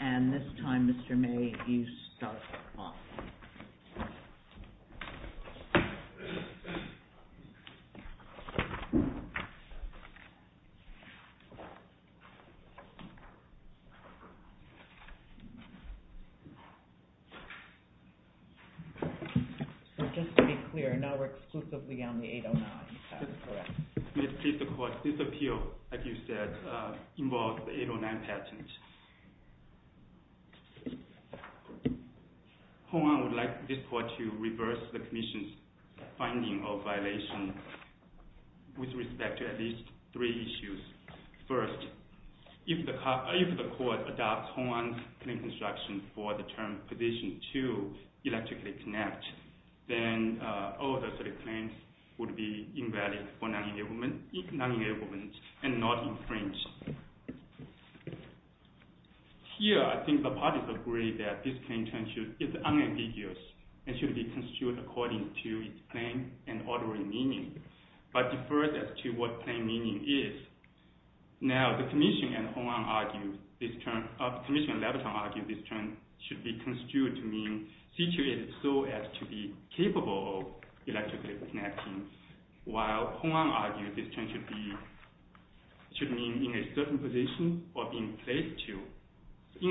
And this time, Mr. May, you start the call. So just to be clear, now we're exclusively on the 809, is that correct? May it please the Court, this appeal, like you said, involves the 809 patent. Hongan would like this Court to reverse the Commission's finding of violation with respect to at least three issues. First, if the Court adopts Hongan's claim construction for the term position 2, electrically connect, then all of those claims would be invalid for non-enablement and not infringed. Here, I think the parties agree that this claim term is unambiguous and should be construed according to its plain and ordinary meaning, but deferred as to what plain meaning is. Now, the Commission and Hongan argue this term should be construed to mean situated so as to be capable of electrically connecting, while Hongan argues this term should mean in a certain position or being placed to.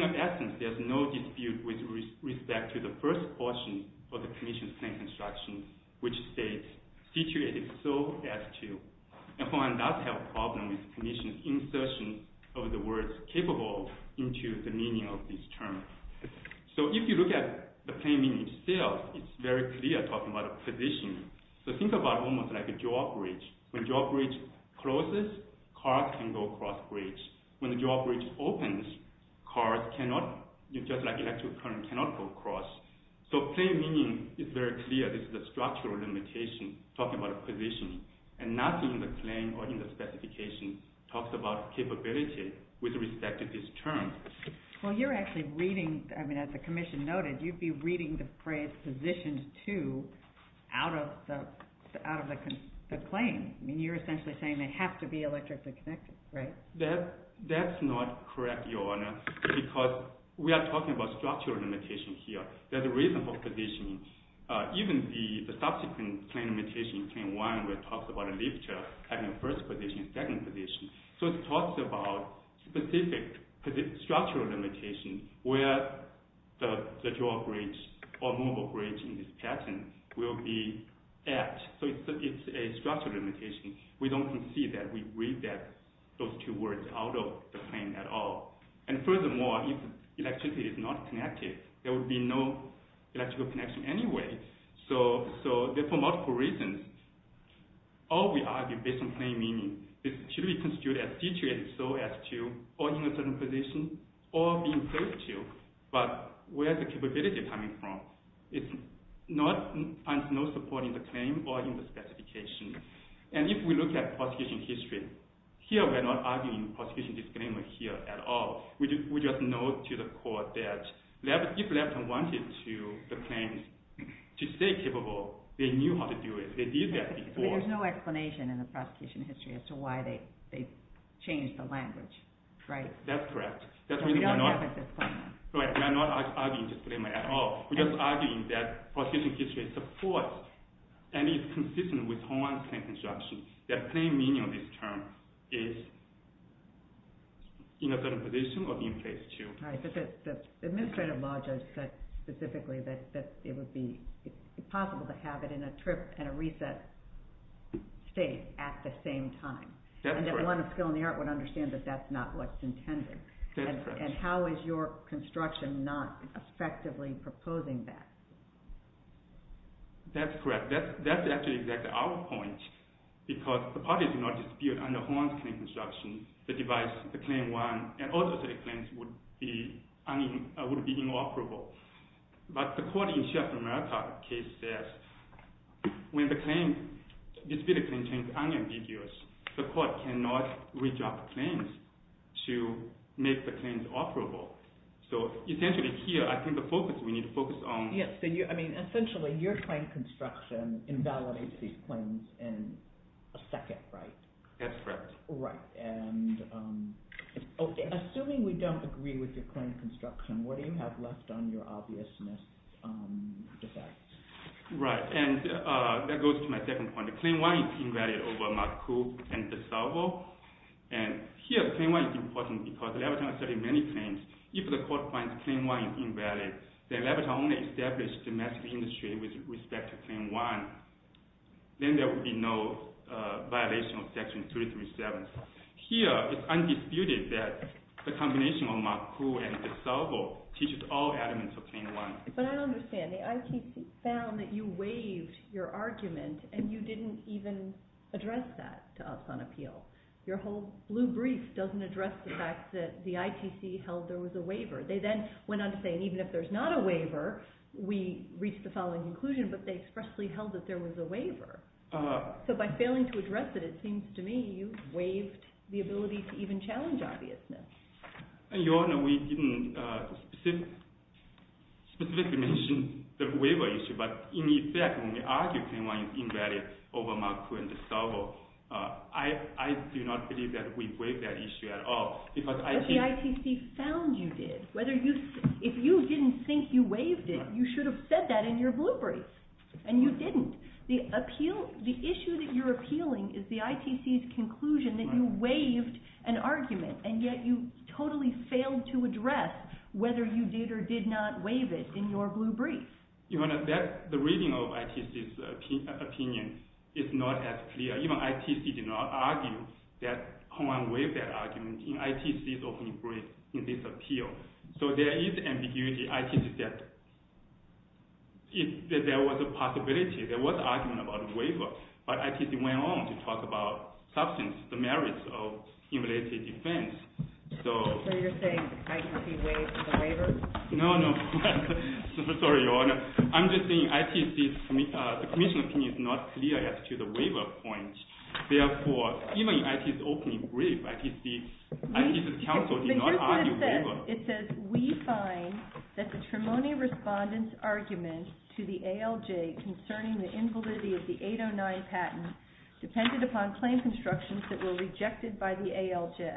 In essence, there's no dispute with respect to the first portion of the Commission's claim construction, which states situated so as to. And Hongan does have a problem with the Commission's insertion of the word capable into the meaning of this term. So if you look at the plain meaning itself, it's very clear talking about a position. So think about almost like a drawbridge. When drawbridge closes, cars can go across bridge. When drawbridge opens, cars cannot, just like electric current, cannot go across. So plain meaning is very clear. This is a structural limitation talking about a position. And nothing in the claim or in the specification talks about capability with respect to this term. Well, you're actually reading, I mean, as the Commission noted, you'd be reading the phrase positioned to out of the claim. I mean, you're essentially saying they have to be electrically connected, right? That's not correct, Your Honor, because we are talking about structural limitation here. There's a reason for positioning. Even the subsequent claim limitation, claim one, where it talks about a lifter having a first position and second position. So it talks about specific structural limitation where the drawbridge or mobile bridge in this pattern will be at. So it's a structural limitation. We don't concede that we read those two words out of the claim at all. And furthermore, if electricity is not connected, there would be no electrical connection anyway. So for multiple reasons, all we argue based on plain meaning, it should be constituted as situated so as to, or in a certain position, or being close to. But where is the capability coming from? It's not, there's no support in the claim or in the specification. And if we look at prosecution history, here we're not arguing prosecution disclaimer here at all. We just note to the court that if Lepton wanted the claim to stay capable, they knew how to do it. They did that before. There's no explanation in the prosecution history as to why they changed the language, right? That's correct. So we don't have a disclaimer. Right, we are not arguing disclaimer at all. We're just arguing that prosecution history supports and is consistent with Hawaiian plain construction. That plain meaning of this term is in a certain position or being placed to. All right, but the administrative law judge said specifically that it would be possible to have it in a trip and a reset state at the same time. That's correct. And that one of skill and the art would understand that that's not what's intended. That's correct. And how is your construction not effectively proposing that? That's correct. That's actually exactly our point because the parties do not dispute on the Hawaiian plain construction, the device, the claim one, and all the other claims would be inoperable. But the court in Chef America case says when the claim, this particular claim, is unambiguous, the court cannot reject claims to make the claims operable. So essentially here I think the focus, we need to focus on… Yes, I mean essentially your plain construction invalidates these claims in a second, right? That's correct. Right, and assuming we don't agree with your claim construction, what do you have left on your obvious misdefects? Right, and that goes to my second point. The claim one is invalid over Mark Coop and DeSalvo. And here the claim one is important because the laboratory has studied many claims. If the court finds claim one is invalid, then the laboratory only established domestic industry with respect to claim one, then there would be no violation of Section 237. Here it's undisputed that the combination of Mark Coop and DeSalvo teaches all elements of claim one. Right, but I don't understand. The ITC found that you waived your argument and you didn't even address that to us on appeal. Your whole blue brief doesn't address the fact that the ITC held there was a waiver. They then went on to say even if there's not a waiver, we reached the following conclusion, but they expressly held that there was a waiver. So by failing to address it, it seems to me you waived the ability to even challenge obviousness. Your Honor, we didn't specifically mention the waiver issue, but in effect when we argue claim one is invalid over Mark Coop and DeSalvo, I do not believe that we waived that issue at all. But the ITC found you did. If you didn't think you waived it, you should have said that in your blue brief, and you didn't. The issue that you're appealing is the ITC's conclusion that you waived an argument, and yet you totally failed to address whether you did or did not waive it in your blue brief. Your Honor, the reading of ITC's opinion is not as clear. Even ITC did not argue that Hongwan waived that argument in ITC's opening brief in this appeal. So there is ambiguity. ITC said that there was a possibility. There was an argument about a waiver, but ITC went on to talk about substance, the merits of invalidity defense. So you're saying ITC waived the waiver? No, no. Sorry, Your Honor. I'm just saying ITC's commission opinion is not clear as to the waiver point. Therefore, even in ITC's opening brief, ITC's counsel did not argue waiver. But here's what it says. It says, we find that the Trimony Respondent's argument to the ALJ concerning the invalidity of the 809 patent depended upon claim constructions that were rejected by the ALJ.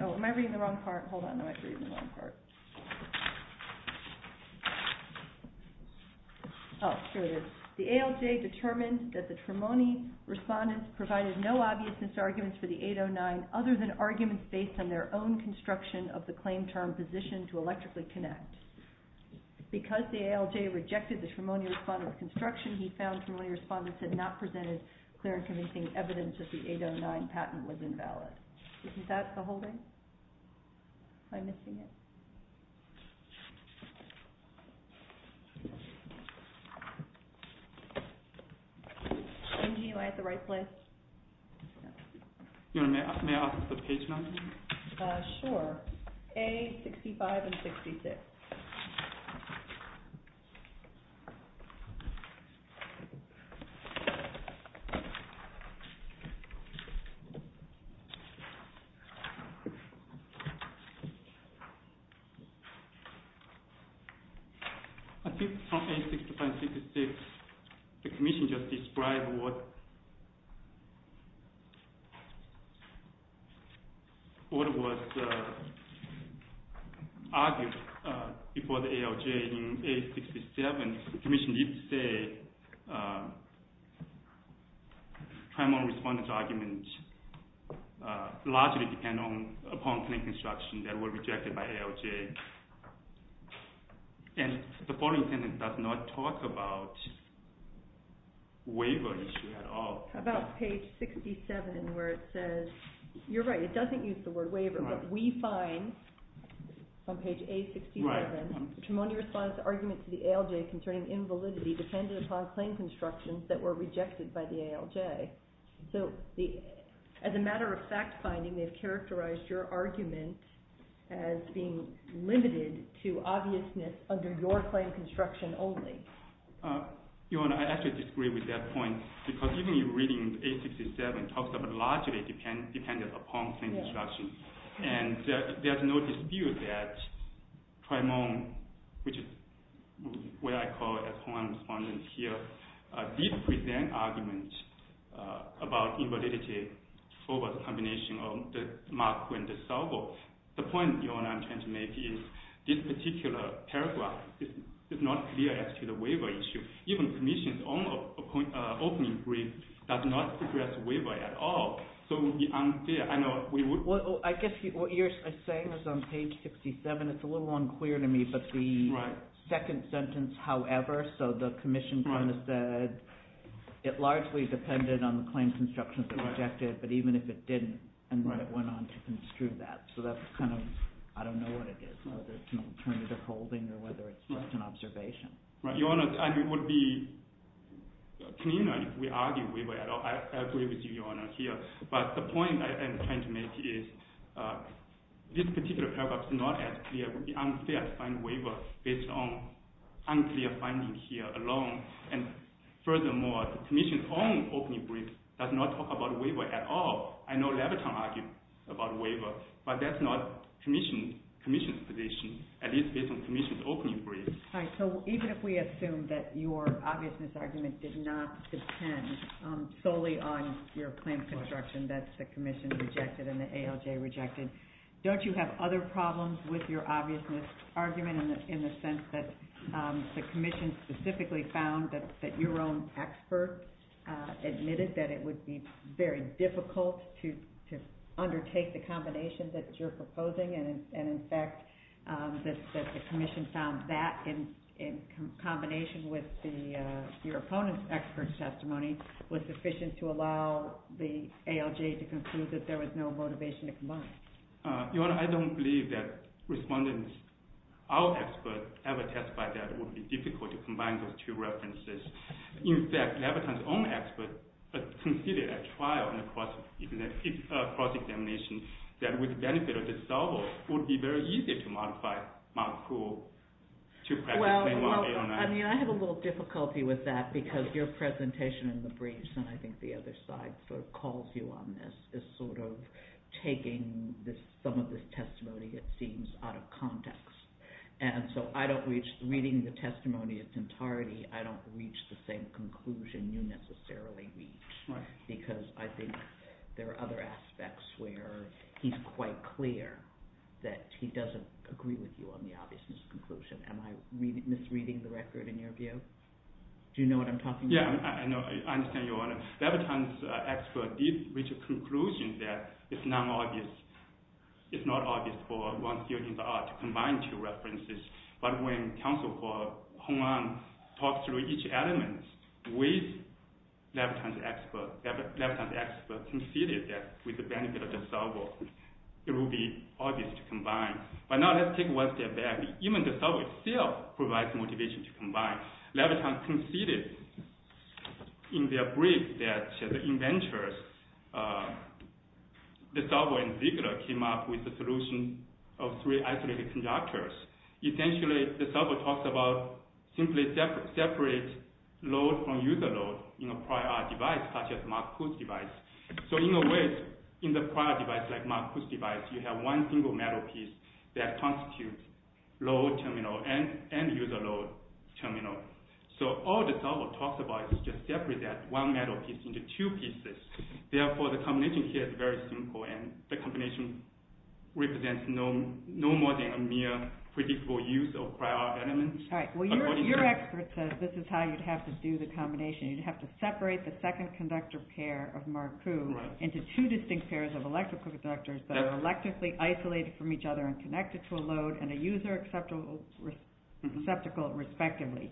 Oh, am I reading the wrong part? Hold on, I might be reading the wrong part. Oh, here it is. The ALJ determined that the Trimony Respondents provided no obviousness arguments for the 809 other than arguments based on their own construction of the claim term position to electrically connect. Because the ALJ rejected the Trimony Respondent's construction, he found Trimony Respondents had not presented clear and convincing evidence that the 809 patent was invalid. Is that the holding? I'm missing it. Angie, am I at the right place? Your Honor, may I have the page number? Sure. A-65 and 66. I think from A-65 and 66, the commission just described what was argued. Before the ALJ in A-67, the commission did say Trimony Respondent's argument largely depended upon claim construction that were rejected by ALJ. And the following sentence does not talk about waiver issue at all. How about page 67 where it says, you're right, it doesn't use the word waiver, but we find on page A-67, Trimony Respondent's argument to the ALJ concerning invalidity depended upon claim constructions that were rejected by the ALJ. So as a matter of fact finding, they've characterized your argument as being limited to obviousness under your claim construction only. Your Honor, I actually disagree with that point. Because even reading A-67, it talks about largely dependent upon claim construction. And there's no dispute that Trimony, which is what I call a claim respondent here, did present arguments about invalidity over the combination of the mark and the salvo. So the point, Your Honor, I'm trying to make is this particular paragraph is not clear as to the waiver issue. Even the commission's own opening brief does not address waiver at all. So we aren't there. Well, I guess what you're saying is on page 67, it's a little unclear to me. But the second sentence, however, so the commission kind of said it largely depended on the claim constructions that were rejected, but even if it didn't, and then it went on to construe that. So that's kind of – I don't know what it is, whether it's an alternative holding or whether it's just an observation. Your Honor, it would be cleaner if we argue waiver at all. I agree with you, Your Honor, here. But the point I'm trying to make is this particular paragraph is not as clear. It would be unclear to find waiver based on unclear findings here alone. And furthermore, the commission's own opening brief does not talk about waiver at all. I know Leviton argued about waiver, but that's not the commission's position, at least based on the commission's opening brief. All right, so even if we assume that your obviousness argument did not depend solely on your claim construction that the commission rejected and the ALJ rejected, don't you have other problems with your obviousness argument in the sense that the commission specifically found that your own expert admitted that it would be very difficult to undertake the combination that you're proposing? And in fact, that the commission found that in combination with your opponent's expert testimony was sufficient to allow the ALJ to conclude that there was no motivation to combine. Your Honor, I don't believe that respondents, our experts, ever testified that it would be difficult to combine those two references. In fact, Leviton's own expert conceded at trial and a cross-examination that, with the benefit of dissolval, it would be very easy to modify Mount Cool to practice plain law. Well, I mean, I have a little difficulty with that because your presentation in the briefs, and I think the other side sort of calls you on this, is sort of taking some of this testimony, it seems, out of context. And so I don't reach – reading the testimony in its entirety, I don't reach the same conclusion you necessarily reach because I think there are other aspects where he's quite clear that he doesn't agree with you on the obviousness conclusion. Am I misreading the record in your view? Do you know what I'm talking about? Yeah, I understand, your Honor. Leviton's expert did reach a conclusion that it's not obvious for one field in the art to combine two references. But when counsel for Hong An talked through each element, Leviton's expert conceded that, with the benefit of dissolval, it would be obvious to combine. But now let's take one step back. Even dissolval itself provides motivation to combine. Leviton conceded in their brief that the inventors, dissolval and Ziegler, came up with a solution of three isolated conductors. Essentially, dissolval talks about simply separate load from user load in a prior device, such as Mark Kutz's device. So in a way, in the prior device, like Mark Kutz's device, you have one single metal piece that constitutes load terminal and user load terminal. So all dissolval talks about is just separate that one metal piece into two pieces. Therefore, the combination here is very simple and the combination represents no more than a mere predictable use of prior elements. Your expert says this is how you'd have to do the combination. You'd have to separate the second conductor pair of Mark Kutz into two distinct pairs of electrical conductors that are electrically isolated from each other and connected to a load and a user receptacle respectively.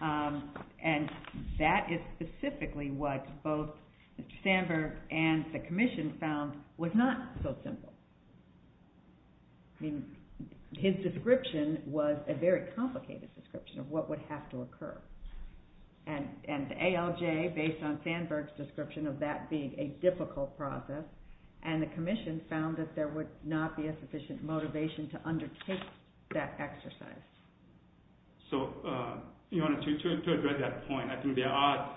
And that is specifically what both Sandberg and the Commission found was not so simple. His description was a very complicated description of what would have to occur. And ALJ, based on Sandberg's description of that being a difficult process, and the Commission found that there would not be a sufficient motivation to undertake that exercise. So to address that point, I think there are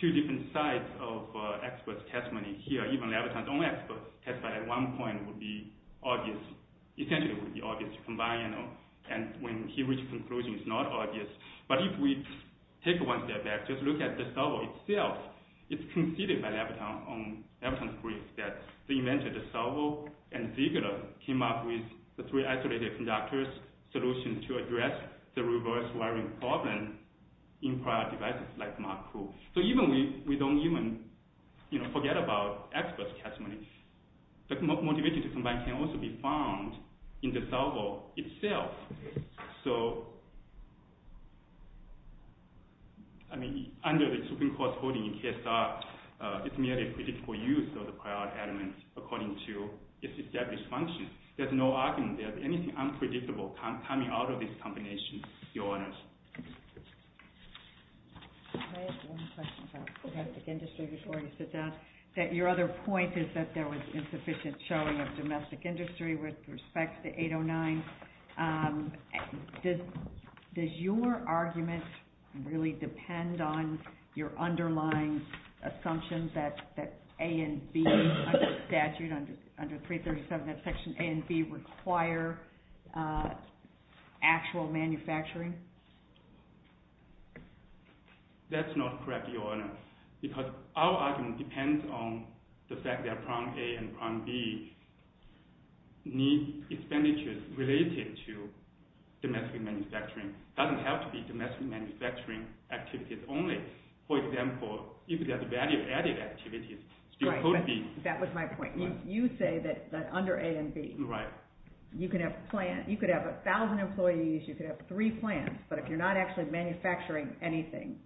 two different sides of experts' testimony here. Even Labrador's own expert testified at one point would be obvious. Essentially, it would be obvious to combine them. And when he reached a conclusion, it's not obvious. But if we take one step back, just look at dissolval itself, it's conceded by Labrador's brief that the inventor dissolval and Ziegler came up with the three isolated conductors solution to address the reverse wiring problem in prior devices like Mark Kutz. So we don't even forget about experts' testimony. But motivation to combine can also be found in dissolval itself. So, I mean, under the Supreme Court's holding in KSR, it's merely a critical use of the prior elements according to its established function. There's no argument there's anything unpredictable coming out of this combination, Your Honors. I have one question about domestic industry before I sit down. Your other point is that there was insufficient showing of domestic industry with respect to 809. Does your argument really depend on your underlying assumptions that A and B under statute, under 337, that section A and B require actual manufacturing? That's not correct, Your Honor, because our argument depends on the fact that Prong A and Prong B need expenditures related to domestic manufacturing. It doesn't have to be domestic manufacturing activities only. For example, if there's value-added activities, it still could be. That was my point. You say that under A and B, you could have a thousand employees, you could have three plants, but if you're not actually manufacturing anything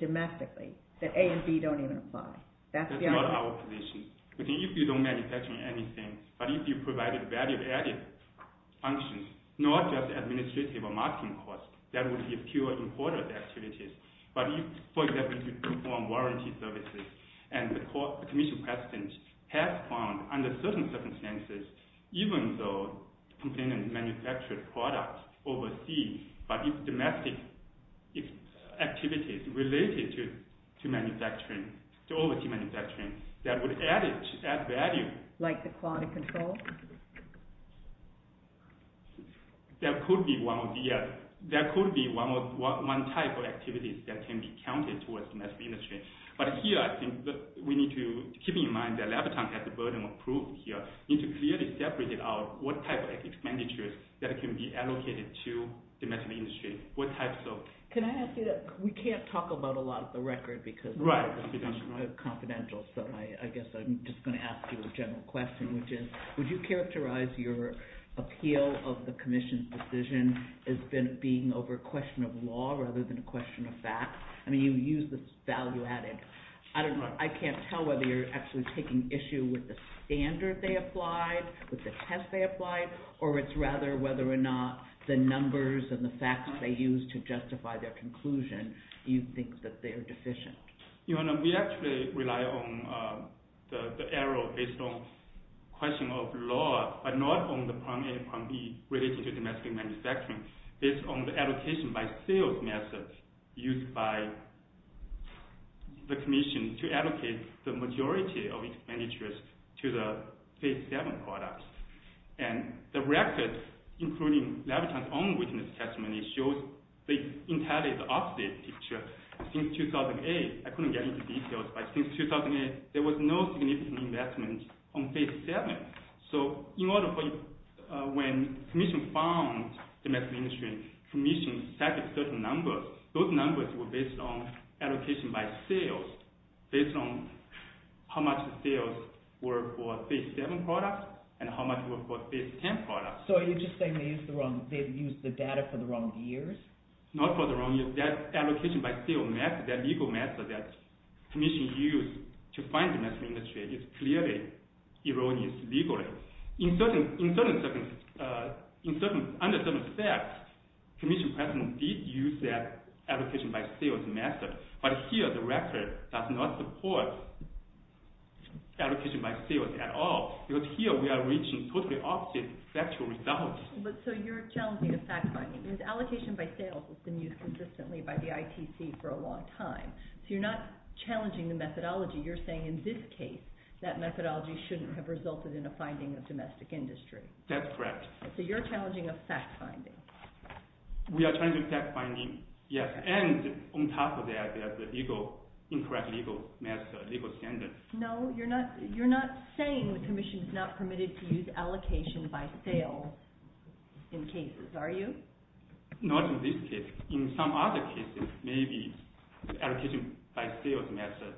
domestically, that A and B don't even apply. That's the argument. But if you don't manufacture anything, but if you provided value-added functions, not just administrative or marketing costs, that would be a pure importer of the activities. But if, for example, you perform warranty services, and the commission president has found under certain circumstances, even though the complainant manufactured products overseas, but if domestic activities related to manufacturing, to overseas manufacturing, that would add value. Like the quality control? There could be one type of activities that can be counted towards domestic industry. But here, I think we need to keep in mind that Labatant has the burden of proof here. We need to clearly separate out what type of expenditures that can be allocated to domestic industry. Can I ask you that? We can't talk about a lot of the record because confidential, so I guess I'm just going to ask you a general question, which is, would you characterize your appeal of the commission's decision as being over a question of law rather than a question of fact? I mean, you used the value-added. I don't know. I can't tell whether you're actually taking issue with the standard they applied, with the test they applied, or it's rather whether or not the numbers and the facts they used to justify their conclusion, you think that they are deficient. We actually rely on the error based on question of law, but not on the prime A and prime B related to domestic manufacturing. It's on the allocation by sales method used by the commission to allocate the majority of expenditures to the Phase 7 products. The record, including Labatant's own witness testimony, shows the entirely opposite picture. Since 2008, I couldn't get into details, but since 2008, there was no significant investment on Phase 7. So when the commission found domestic manufacturing, the commission cited certain numbers. Those numbers were based on allocation by sales, based on how much the sales were for Phase 7 products and how much were for Phase 10 products. So are you just saying they used the data for the wrong years? Not for the wrong years. That allocation by sales method, that legal method that the commission used to find domestic manufacturing is clearly erroneous legally. Under certain facts, the commission did use that allocation by sales method, but here the record does not support allocation by sales at all, because here we are reaching totally opposite factual results. So you're challenging a fact finding, because allocation by sales has been used consistently by the ITC for a long time. So you're not challenging the methodology. You're saying in this case, that methodology shouldn't have resulted in a finding of domestic industry. That's correct. So you're challenging a fact finding. We are challenging a fact finding, yes. And on top of that, there's incorrect legal standards. No, you're not saying the commission is not permitted to use allocation by sales in cases, are you? Not in this case. In some other cases, allocation by sales method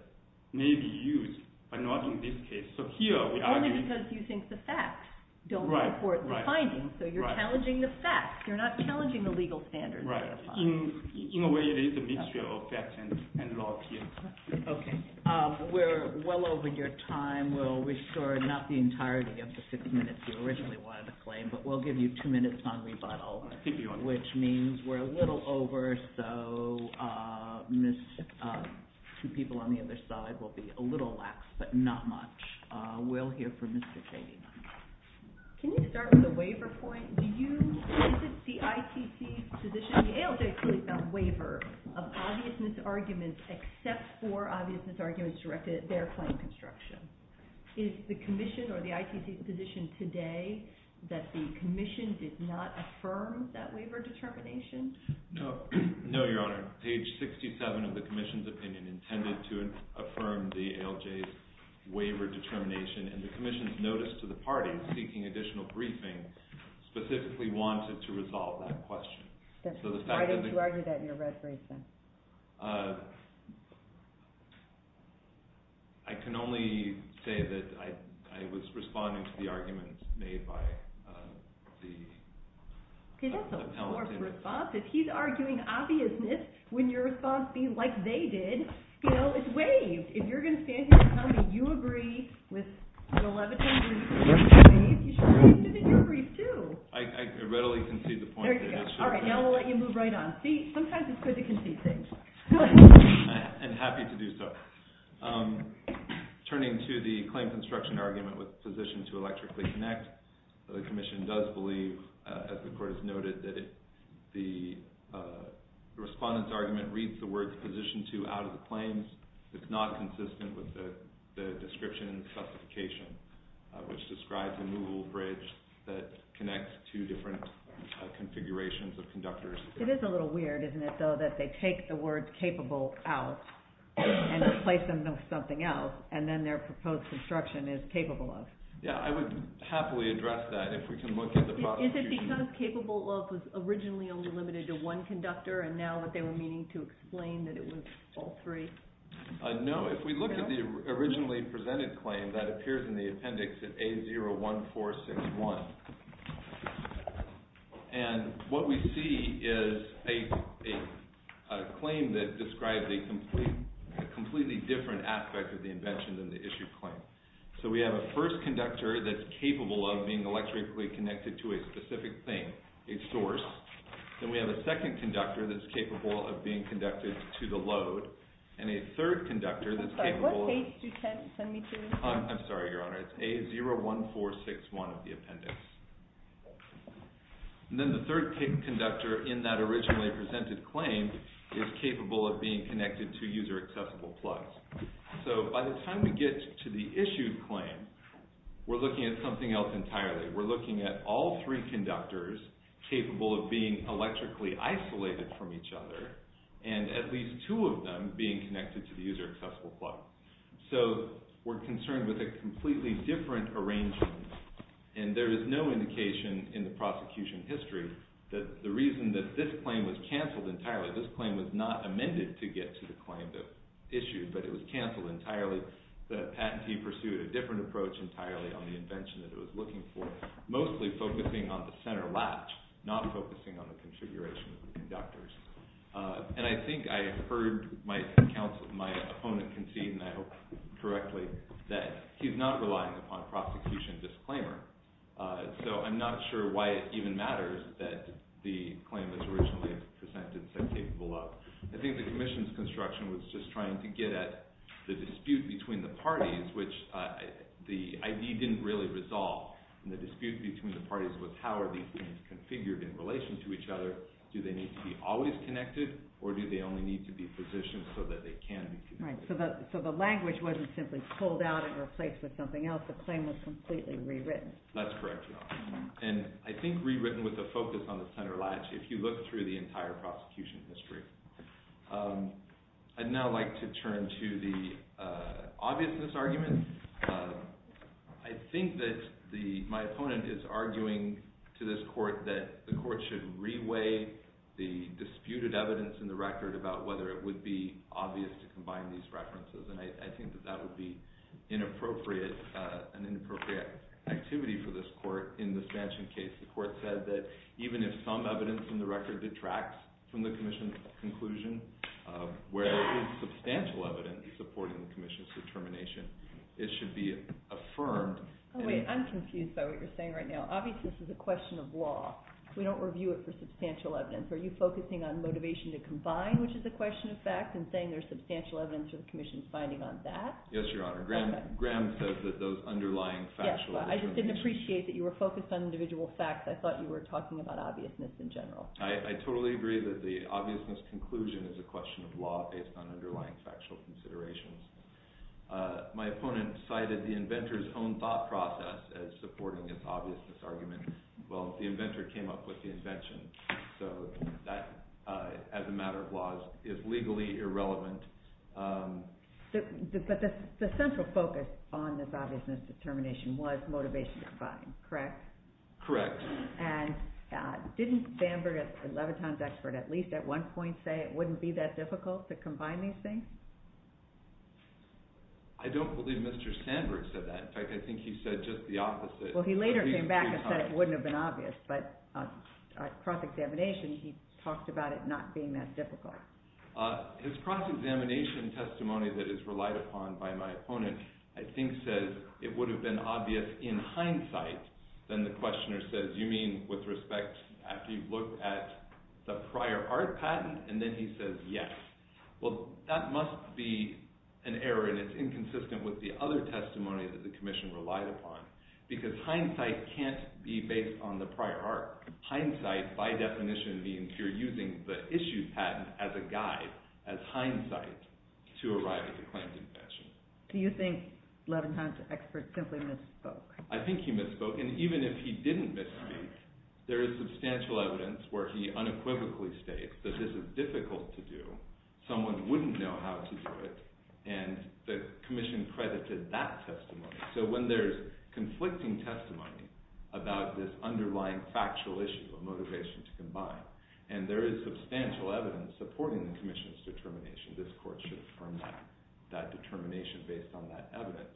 may be used, but not in this case. Only because you think the facts don't support the findings, so you're challenging the facts. You're not challenging the legal standards. In a way, it is a mixture of facts and law. Okay. We're well over your time. We'll restore not the entirety of the six minutes you originally wanted to claim, but we'll give you two minutes on rebuttal, which means we're a little over, so two people on the other side will be a little lax, but not much. We'll hear from Mr. Chaney. Can you start with a waiver point? Is it the ITC's position, the ALJ's position about waiver of obvious misarguments except for obvious misarguments directed at their claim construction? Is the commission or the ITC's position today that the commission did not affirm that waiver determination? No, Your Honor. Page 67 of the commission's opinion intended to affirm the ALJ's waiver determination, and the commission's notice to the party, seeking additional briefing, specifically wanted to resolve that question. Why don't you argue that in your resume, then? I can only say that I was responding to the argument made by the appellant. He has a forceful response. If he's arguing obviousness, wouldn't your response be, like they did? You know, it's waived. If you're going to stand here and tell me you agree with the Leviton brief, you should agree with it in your brief, too. I readily concede the point. All right, now we'll let you move right on. See, sometimes it's good to concede things. I'm happy to do so. Turning to the claim construction argument with the position to electrically connect, the commission does believe, as the court has noted, that the respondent's argument reads the words position to out of the claims. It's not consistent with the description and the specification, which describes a movable bridge that connects two different configurations of conductors. It is a little weird, isn't it, though, that they take the word capable out and replace them with something else, and then their proposed construction is capable of. Yeah, I would happily address that if we can look at the process. Is it because capable of was originally only limited to one conductor, and now that they were meaning to explain that it was all three? No, if we look at the originally presented claim that appears in the appendix at A01461, and what we see is a claim that describes a completely different aspect of the invention than the issued claim. So we have a first conductor that's capable of being electrically connected to a specific thing, a source. Then we have a second conductor that's capable of being conducted to the load, and a third conductor that's capable of… I'm sorry, what page do you send me to? I'm sorry, Your Honor. It's A01461 of the appendix. And then the third conductor in that originally presented claim is capable of being connected to user-accessible plugs. So by the time we get to the issued claim, we're looking at something else entirely. We're looking at all three conductors capable of being electrically isolated from each other, and at least two of them being connected to the user-accessible plug. So we're concerned with a completely different arrangement, and there is no indication in the prosecution history that the reason that this claim was canceled entirely, this claim was not amended to get to the claim that was issued, but it was canceled entirely. The patentee pursued a different approach entirely on the invention that it was looking for, mostly focusing on the center latch, not focusing on the configuration of the conductors. And I think I heard my opponent concede, and I hope correctly, that he's not relying upon prosecution disclaimer. So I'm not sure why it even matters that the claim that's originally presented said capable of. I think the commission's construction was just trying to get at the dispute between the parties, which the ID didn't really resolve. And the dispute between the parties was how are these things configured in relation to each other? Do they need to be always connected, or do they only need to be positioned so that they can be connected? Right, so the language wasn't simply pulled out and replaced with something else. The claim was completely rewritten. That's correct, Your Honor. And I think rewritten with a focus on the center latch, if you look through the entire prosecution history. I'd now like to turn to the obviousness argument. I think that my opponent is arguing to this court that the court should re-weigh the disputed evidence in the record about whether it would be obvious to combine these references. And I think that that would be an inappropriate activity for this court in this mansion case. The court said that even if some evidence in the record detracts from the commission's conclusion, where there is substantial evidence supporting the commission's determination, it should be affirmed. Wait, I'm confused by what you're saying right now. Obviously, this is a question of law. We don't review it for substantial evidence. Are you focusing on motivation to combine, which is a question of fact, and saying there's substantial evidence for the commission's finding on that? Yes, Your Honor. Graham says that those underlying factual evidence. I just didn't appreciate that you were focused on individual facts. I thought you were talking about obviousness in general. I totally agree that the obviousness conclusion is a question of law based on underlying factual considerations. My opponent cited the inventor's own thought process as supporting this obviousness argument. Well, the inventor came up with the invention. So that, as a matter of law, is legally irrelevant. But the central focus on this obviousness determination was motivation to combine, correct? Correct. And didn't Sandberg, Leviton's expert, at least at one point say it wouldn't be that difficult to combine these things? I don't believe Mr. Sandberg said that. In fact, I think he said just the opposite. Well, he later came back and said it wouldn't have been obvious, but at cross-examination, he talked about it not being that difficult. His cross-examination testimony that is relied upon by my opponent, I think, says it would have been obvious in hindsight. Then the questioner says, you mean with respect, after you've looked at the prior art patent? And then he says, yes. Well, that must be an error, and it's inconsistent with the other testimony that the commission relied upon. Because hindsight can't be based on the prior art. Hindsight, by definition, means you're using the issued patent as a guide, as hindsight, to arrive at the claimed infection. Do you think Leviton's expert simply misspoke? I think he misspoke. And even if he didn't misspeak, there is substantial evidence where he unequivocally states that this is difficult to do, someone wouldn't know how to do it, and the commission credited that testimony. So when there's conflicting testimony about this underlying factual issue of motivation to combine, and there is substantial evidence supporting the commission's determination, this court should affirm that determination based on that evidence.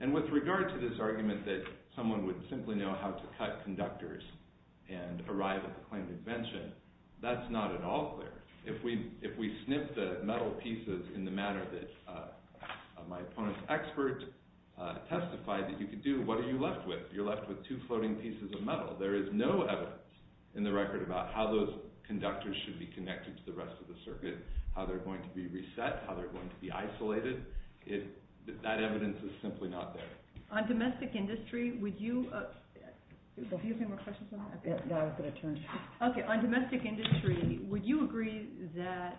And with regard to this argument that someone would simply know how to cut conductors and arrive at the claimed invention, that's not at all clear. If we snip the metal pieces in the manner that my opponent's expert testified that you could do, what are you left with? You're left with two floating pieces of metal. There is no evidence in the record about how those conductors should be connected to the rest of the circuit, how they're going to be reset, how they're going to be isolated. That evidence is simply not there. On domestic industry, would you agree that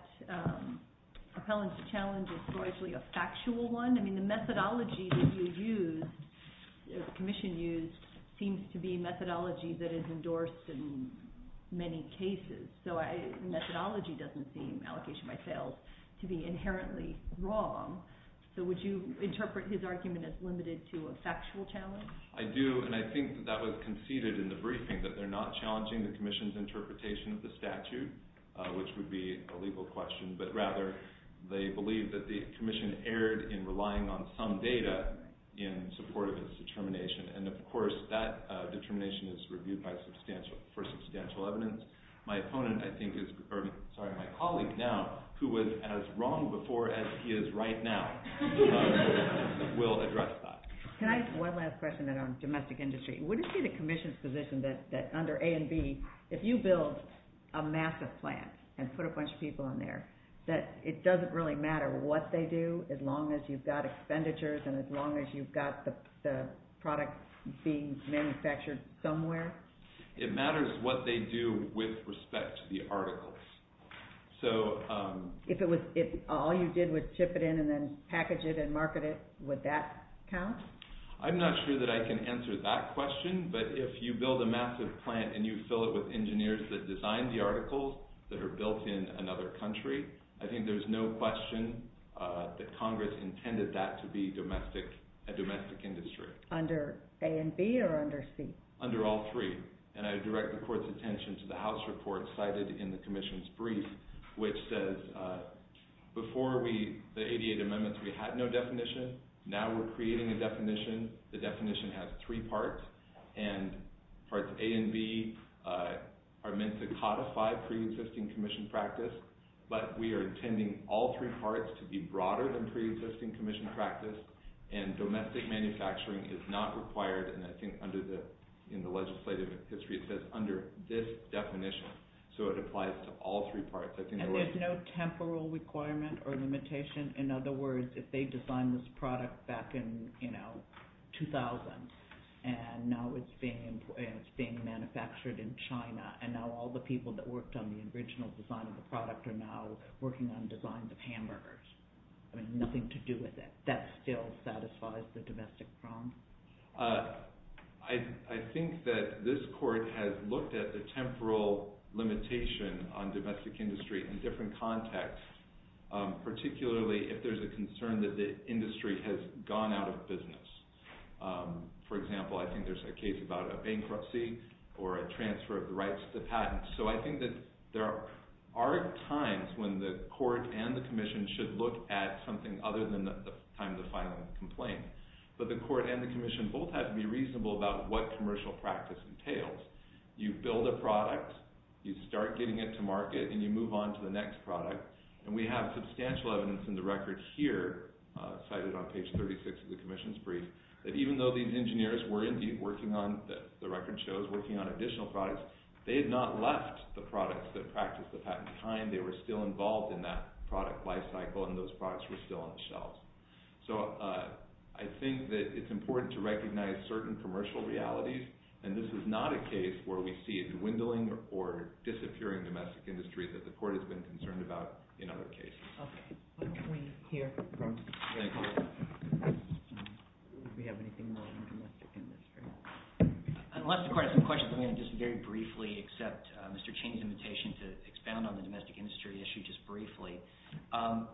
propelling the challenge is largely a factual one? I mean, the methodology that you used, the commission used, seems to be methodology that is endorsed in many cases. So methodology doesn't seem, allocation by sales, to be inherently wrong. So would you interpret his argument as limited to a factual challenge? I do, and I think that was conceded in the briefing, that they're not challenging the commission's interpretation of the statute, which would be a legal question, but rather they believe that the commission erred in relying on some data in support of its determination. And, of course, that determination is reviewed for substantial evidence. My colleague now, who was as wrong before as he is right now, will address that. Can I ask one last question on domestic industry? Wouldn't it be the commission's position that under A and B, if you build a massive plant and put a bunch of people in there, that it doesn't really matter what they do as long as you've got expenditures and as long as you've got the product being manufactured somewhere? It matters what they do with respect to the articles. If all you did was chip it in and then package it and market it, would that count? I'm not sure that I can answer that question, but if you build a massive plant and you fill it with engineers that design the articles that are built in another country, I think there's no question that Congress intended that to be a domestic industry. Under A and B or under C? Under all three. And I direct the court's attention to the House report cited in the commission's brief, which says before the 88 amendments we had no definition. Now we're creating a definition. The definition has three parts, and parts A and B are meant to codify preexisting commission practice, but we are intending all three parts to be broader than preexisting commission practice, and domestic manufacturing is not required, and I think in the legislative history it says under this definition, so it applies to all three parts. And there's no temporal requirement or limitation? In other words, if they designed this product back in 2000 and now it's being manufactured in China and now all the people that worked on the original design of the product are now working on designs of hamburgers, having nothing to do with it, that still satisfies the domestic problem? I think that this court has looked at the temporal limitation on domestic industry in different contexts, particularly if there's a concern that the industry has gone out of business. For example, I think there's a case about a bankruptcy or a transfer of the rights to patents. So I think that there are times when the court and the commission should look at something other than the time to file a complaint, but the court and the commission both have to be reasonable about what commercial practice entails. You build a product, you start getting it to market, and you move on to the next product, and we have substantial evidence in the record here, cited on page 36 of the commission's brief, that even though the engineers were indeed working on, the record shows, working on additional products, they had not left the products that practiced the patent behind. They were still involved in that product life cycle, and those products were still on the shelves. So I think that it's important to recognize certain commercial realities, and this is not a case where we see a dwindling or disappearing domestic industry that the court has been concerned about in other cases. Okay. Thank you. Do we have anything more on domestic industry? Unless the court has some questions, I'm going to just very briefly accept Mr. Chang's invitation to expound on the domestic industry issue just briefly.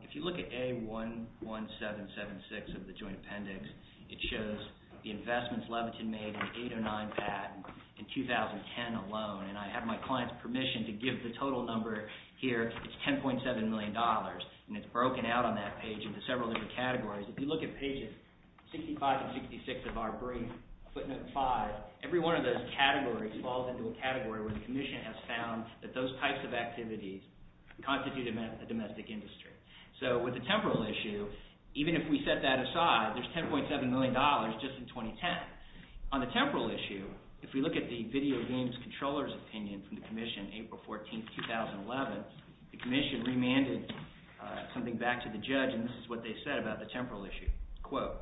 If you look at A11776 of the joint appendix, it shows the investments Leviton made in 809 patents in 2010 alone, and I have my client's permission to give the total number here. It's $10.7 million, and it's broken out on that page into several different categories. If you look at pages 65 and 66 of our brief, footnote 5, every one of those categories falls into a category where the commission has found that those types of activities constitute a domestic industry. So with the temporal issue, even if we set that aside, there's $10.7 million just in 2010. On the temporal issue, if we look at the video games controller's opinion from the commission April 14, 2011, the commission remanded something back to the judge, and this is what they said about the temporal issue. Quote,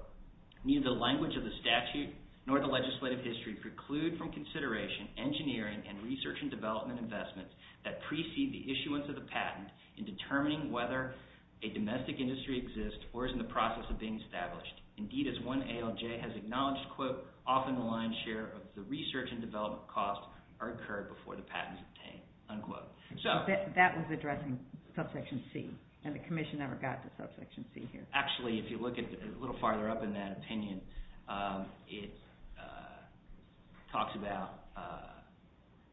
neither the language of the statute nor the legislative history preclude from consideration engineering and research and development investments that precede the issuance of the patent in determining whether a domestic industry exists or is in the process of being established. Indeed, as one ALJ has acknowledged, quote, often the lion's share of the research and development costs are incurred before the patent is obtained. Unquote. So that was addressing subsection C, and the commission never got to subsection C here. Actually, if you look a little farther up in that opinion, it talks about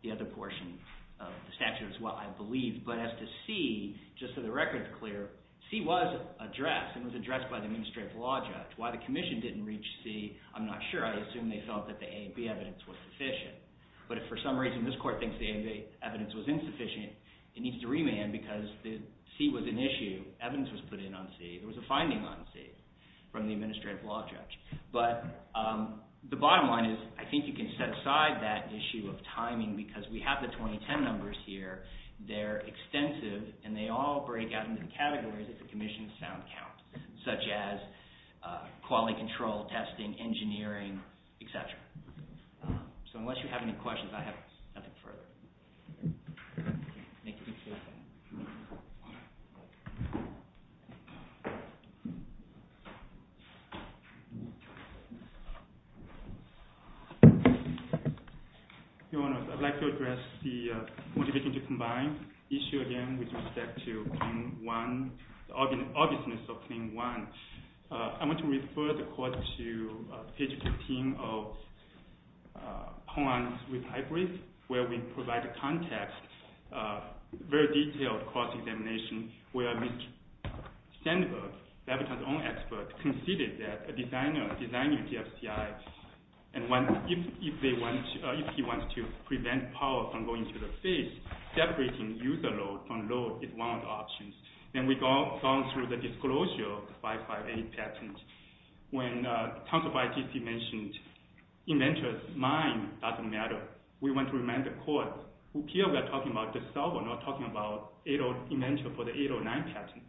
the other portion of the statute as well, I believe. But as to C, just so the record is clear, C was addressed and was addressed by the administrative law judge. Why the commission didn't reach C, I'm not sure. I assume they felt that the A and B evidence was sufficient. But if for some reason this court thinks the A and B evidence was insufficient, it needs to remand because C was an issue. Evidence was put in on C. There was a finding on C from the administrative law judge. But the bottom line is I think you can set aside that issue of timing because we have the 2010 numbers here. They're extensive, and they all break out into categories that the commission found count, such as quality control, testing, engineering, etc. So unless you have any questions, I have nothing further. Your Honors, I'd like to address the motivation to combine issue again with respect to Claim 1, the obviousness of Claim 1. I want to refer the court to page 15 of Hoan's Repatriate, where we provide a context, a very detailed cross-examination, where Mr. Sandberg, Labrador's own expert, conceded that a designer designed UTF-CI, and if he wants to prevent power from going to the face, separating user load from load is one of the options. Then we've gone through the disclosure of the 558 patent. When Council of ITC mentioned inventors' mind doesn't matter, we want to remind the court, here we are talking about the solver, not talking about the inventor for the 809 patent.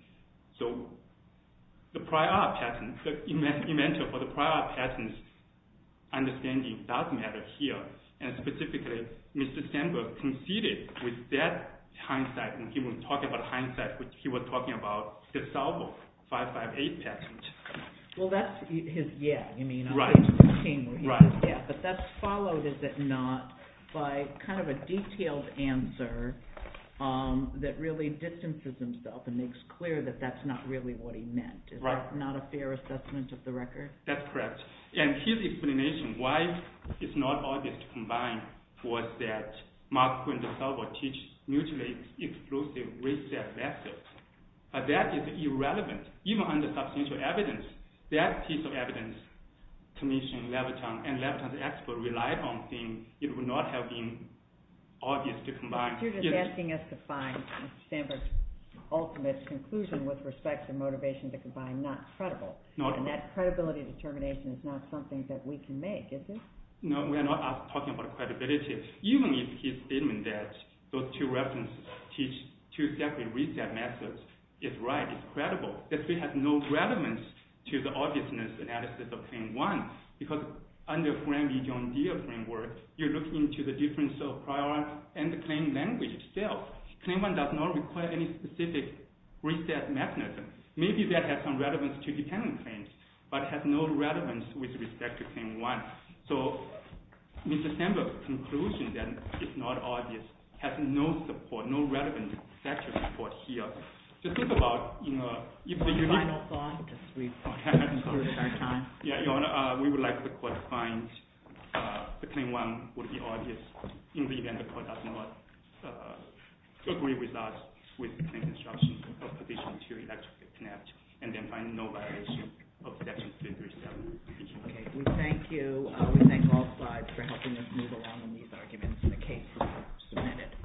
So the prior patent, the inventor for the prior patent's understanding does matter here. Specifically, Mr. Sandberg conceded with that hindsight, and he was talking about the solver, 558 patent. Well, that's his yeah. Right. But that's followed, is it not, by kind of a detailed answer that really distances himself and makes clear that that's not really what he meant. Right. Is that not a fair assessment of the record? That's correct, and his explanation why it's not obvious to combine was that Mark Quinn, the solver, teaches mutually exclusive risk-safe assets, but that is irrelevant. Even under substantial evidence, that piece of evidence, commissioning Labrador and Labrador's expert relied on, it would not have been obvious to combine. You're just asking us to find Mr. Sandberg's ultimate conclusion with respect to motivation to combine not credible. Not at all. And that credibility determination is not something that we can make, is it? No, we're not talking about credibility. Even if his statement that those two references teach two separate risk-safe methods is right, is credible, it still has no relevance to the obviousness analysis of Claim 1. Because under Framley-John Deere framework, you're looking into the difference of prior and the claim language itself. Claim 1 does not require any specific risk-safe mechanism. Maybe that has some relevance to dependent claims, but has no relevance with respect to Claim 1. So Mr. Sandberg's conclusion that it's not obvious has no support, no relevant factual support here. Just think about, you know, if the unique— Final thought, just before we finish our time. Yeah, Your Honor, we would like the court to find the Claim 1 would be obvious in the event the court does not agree with us with the claim construction of position 2, and then find no violation of Section 337. Okay, we thank you. We thank all five for helping us move along on these arguments in the case that was submitted.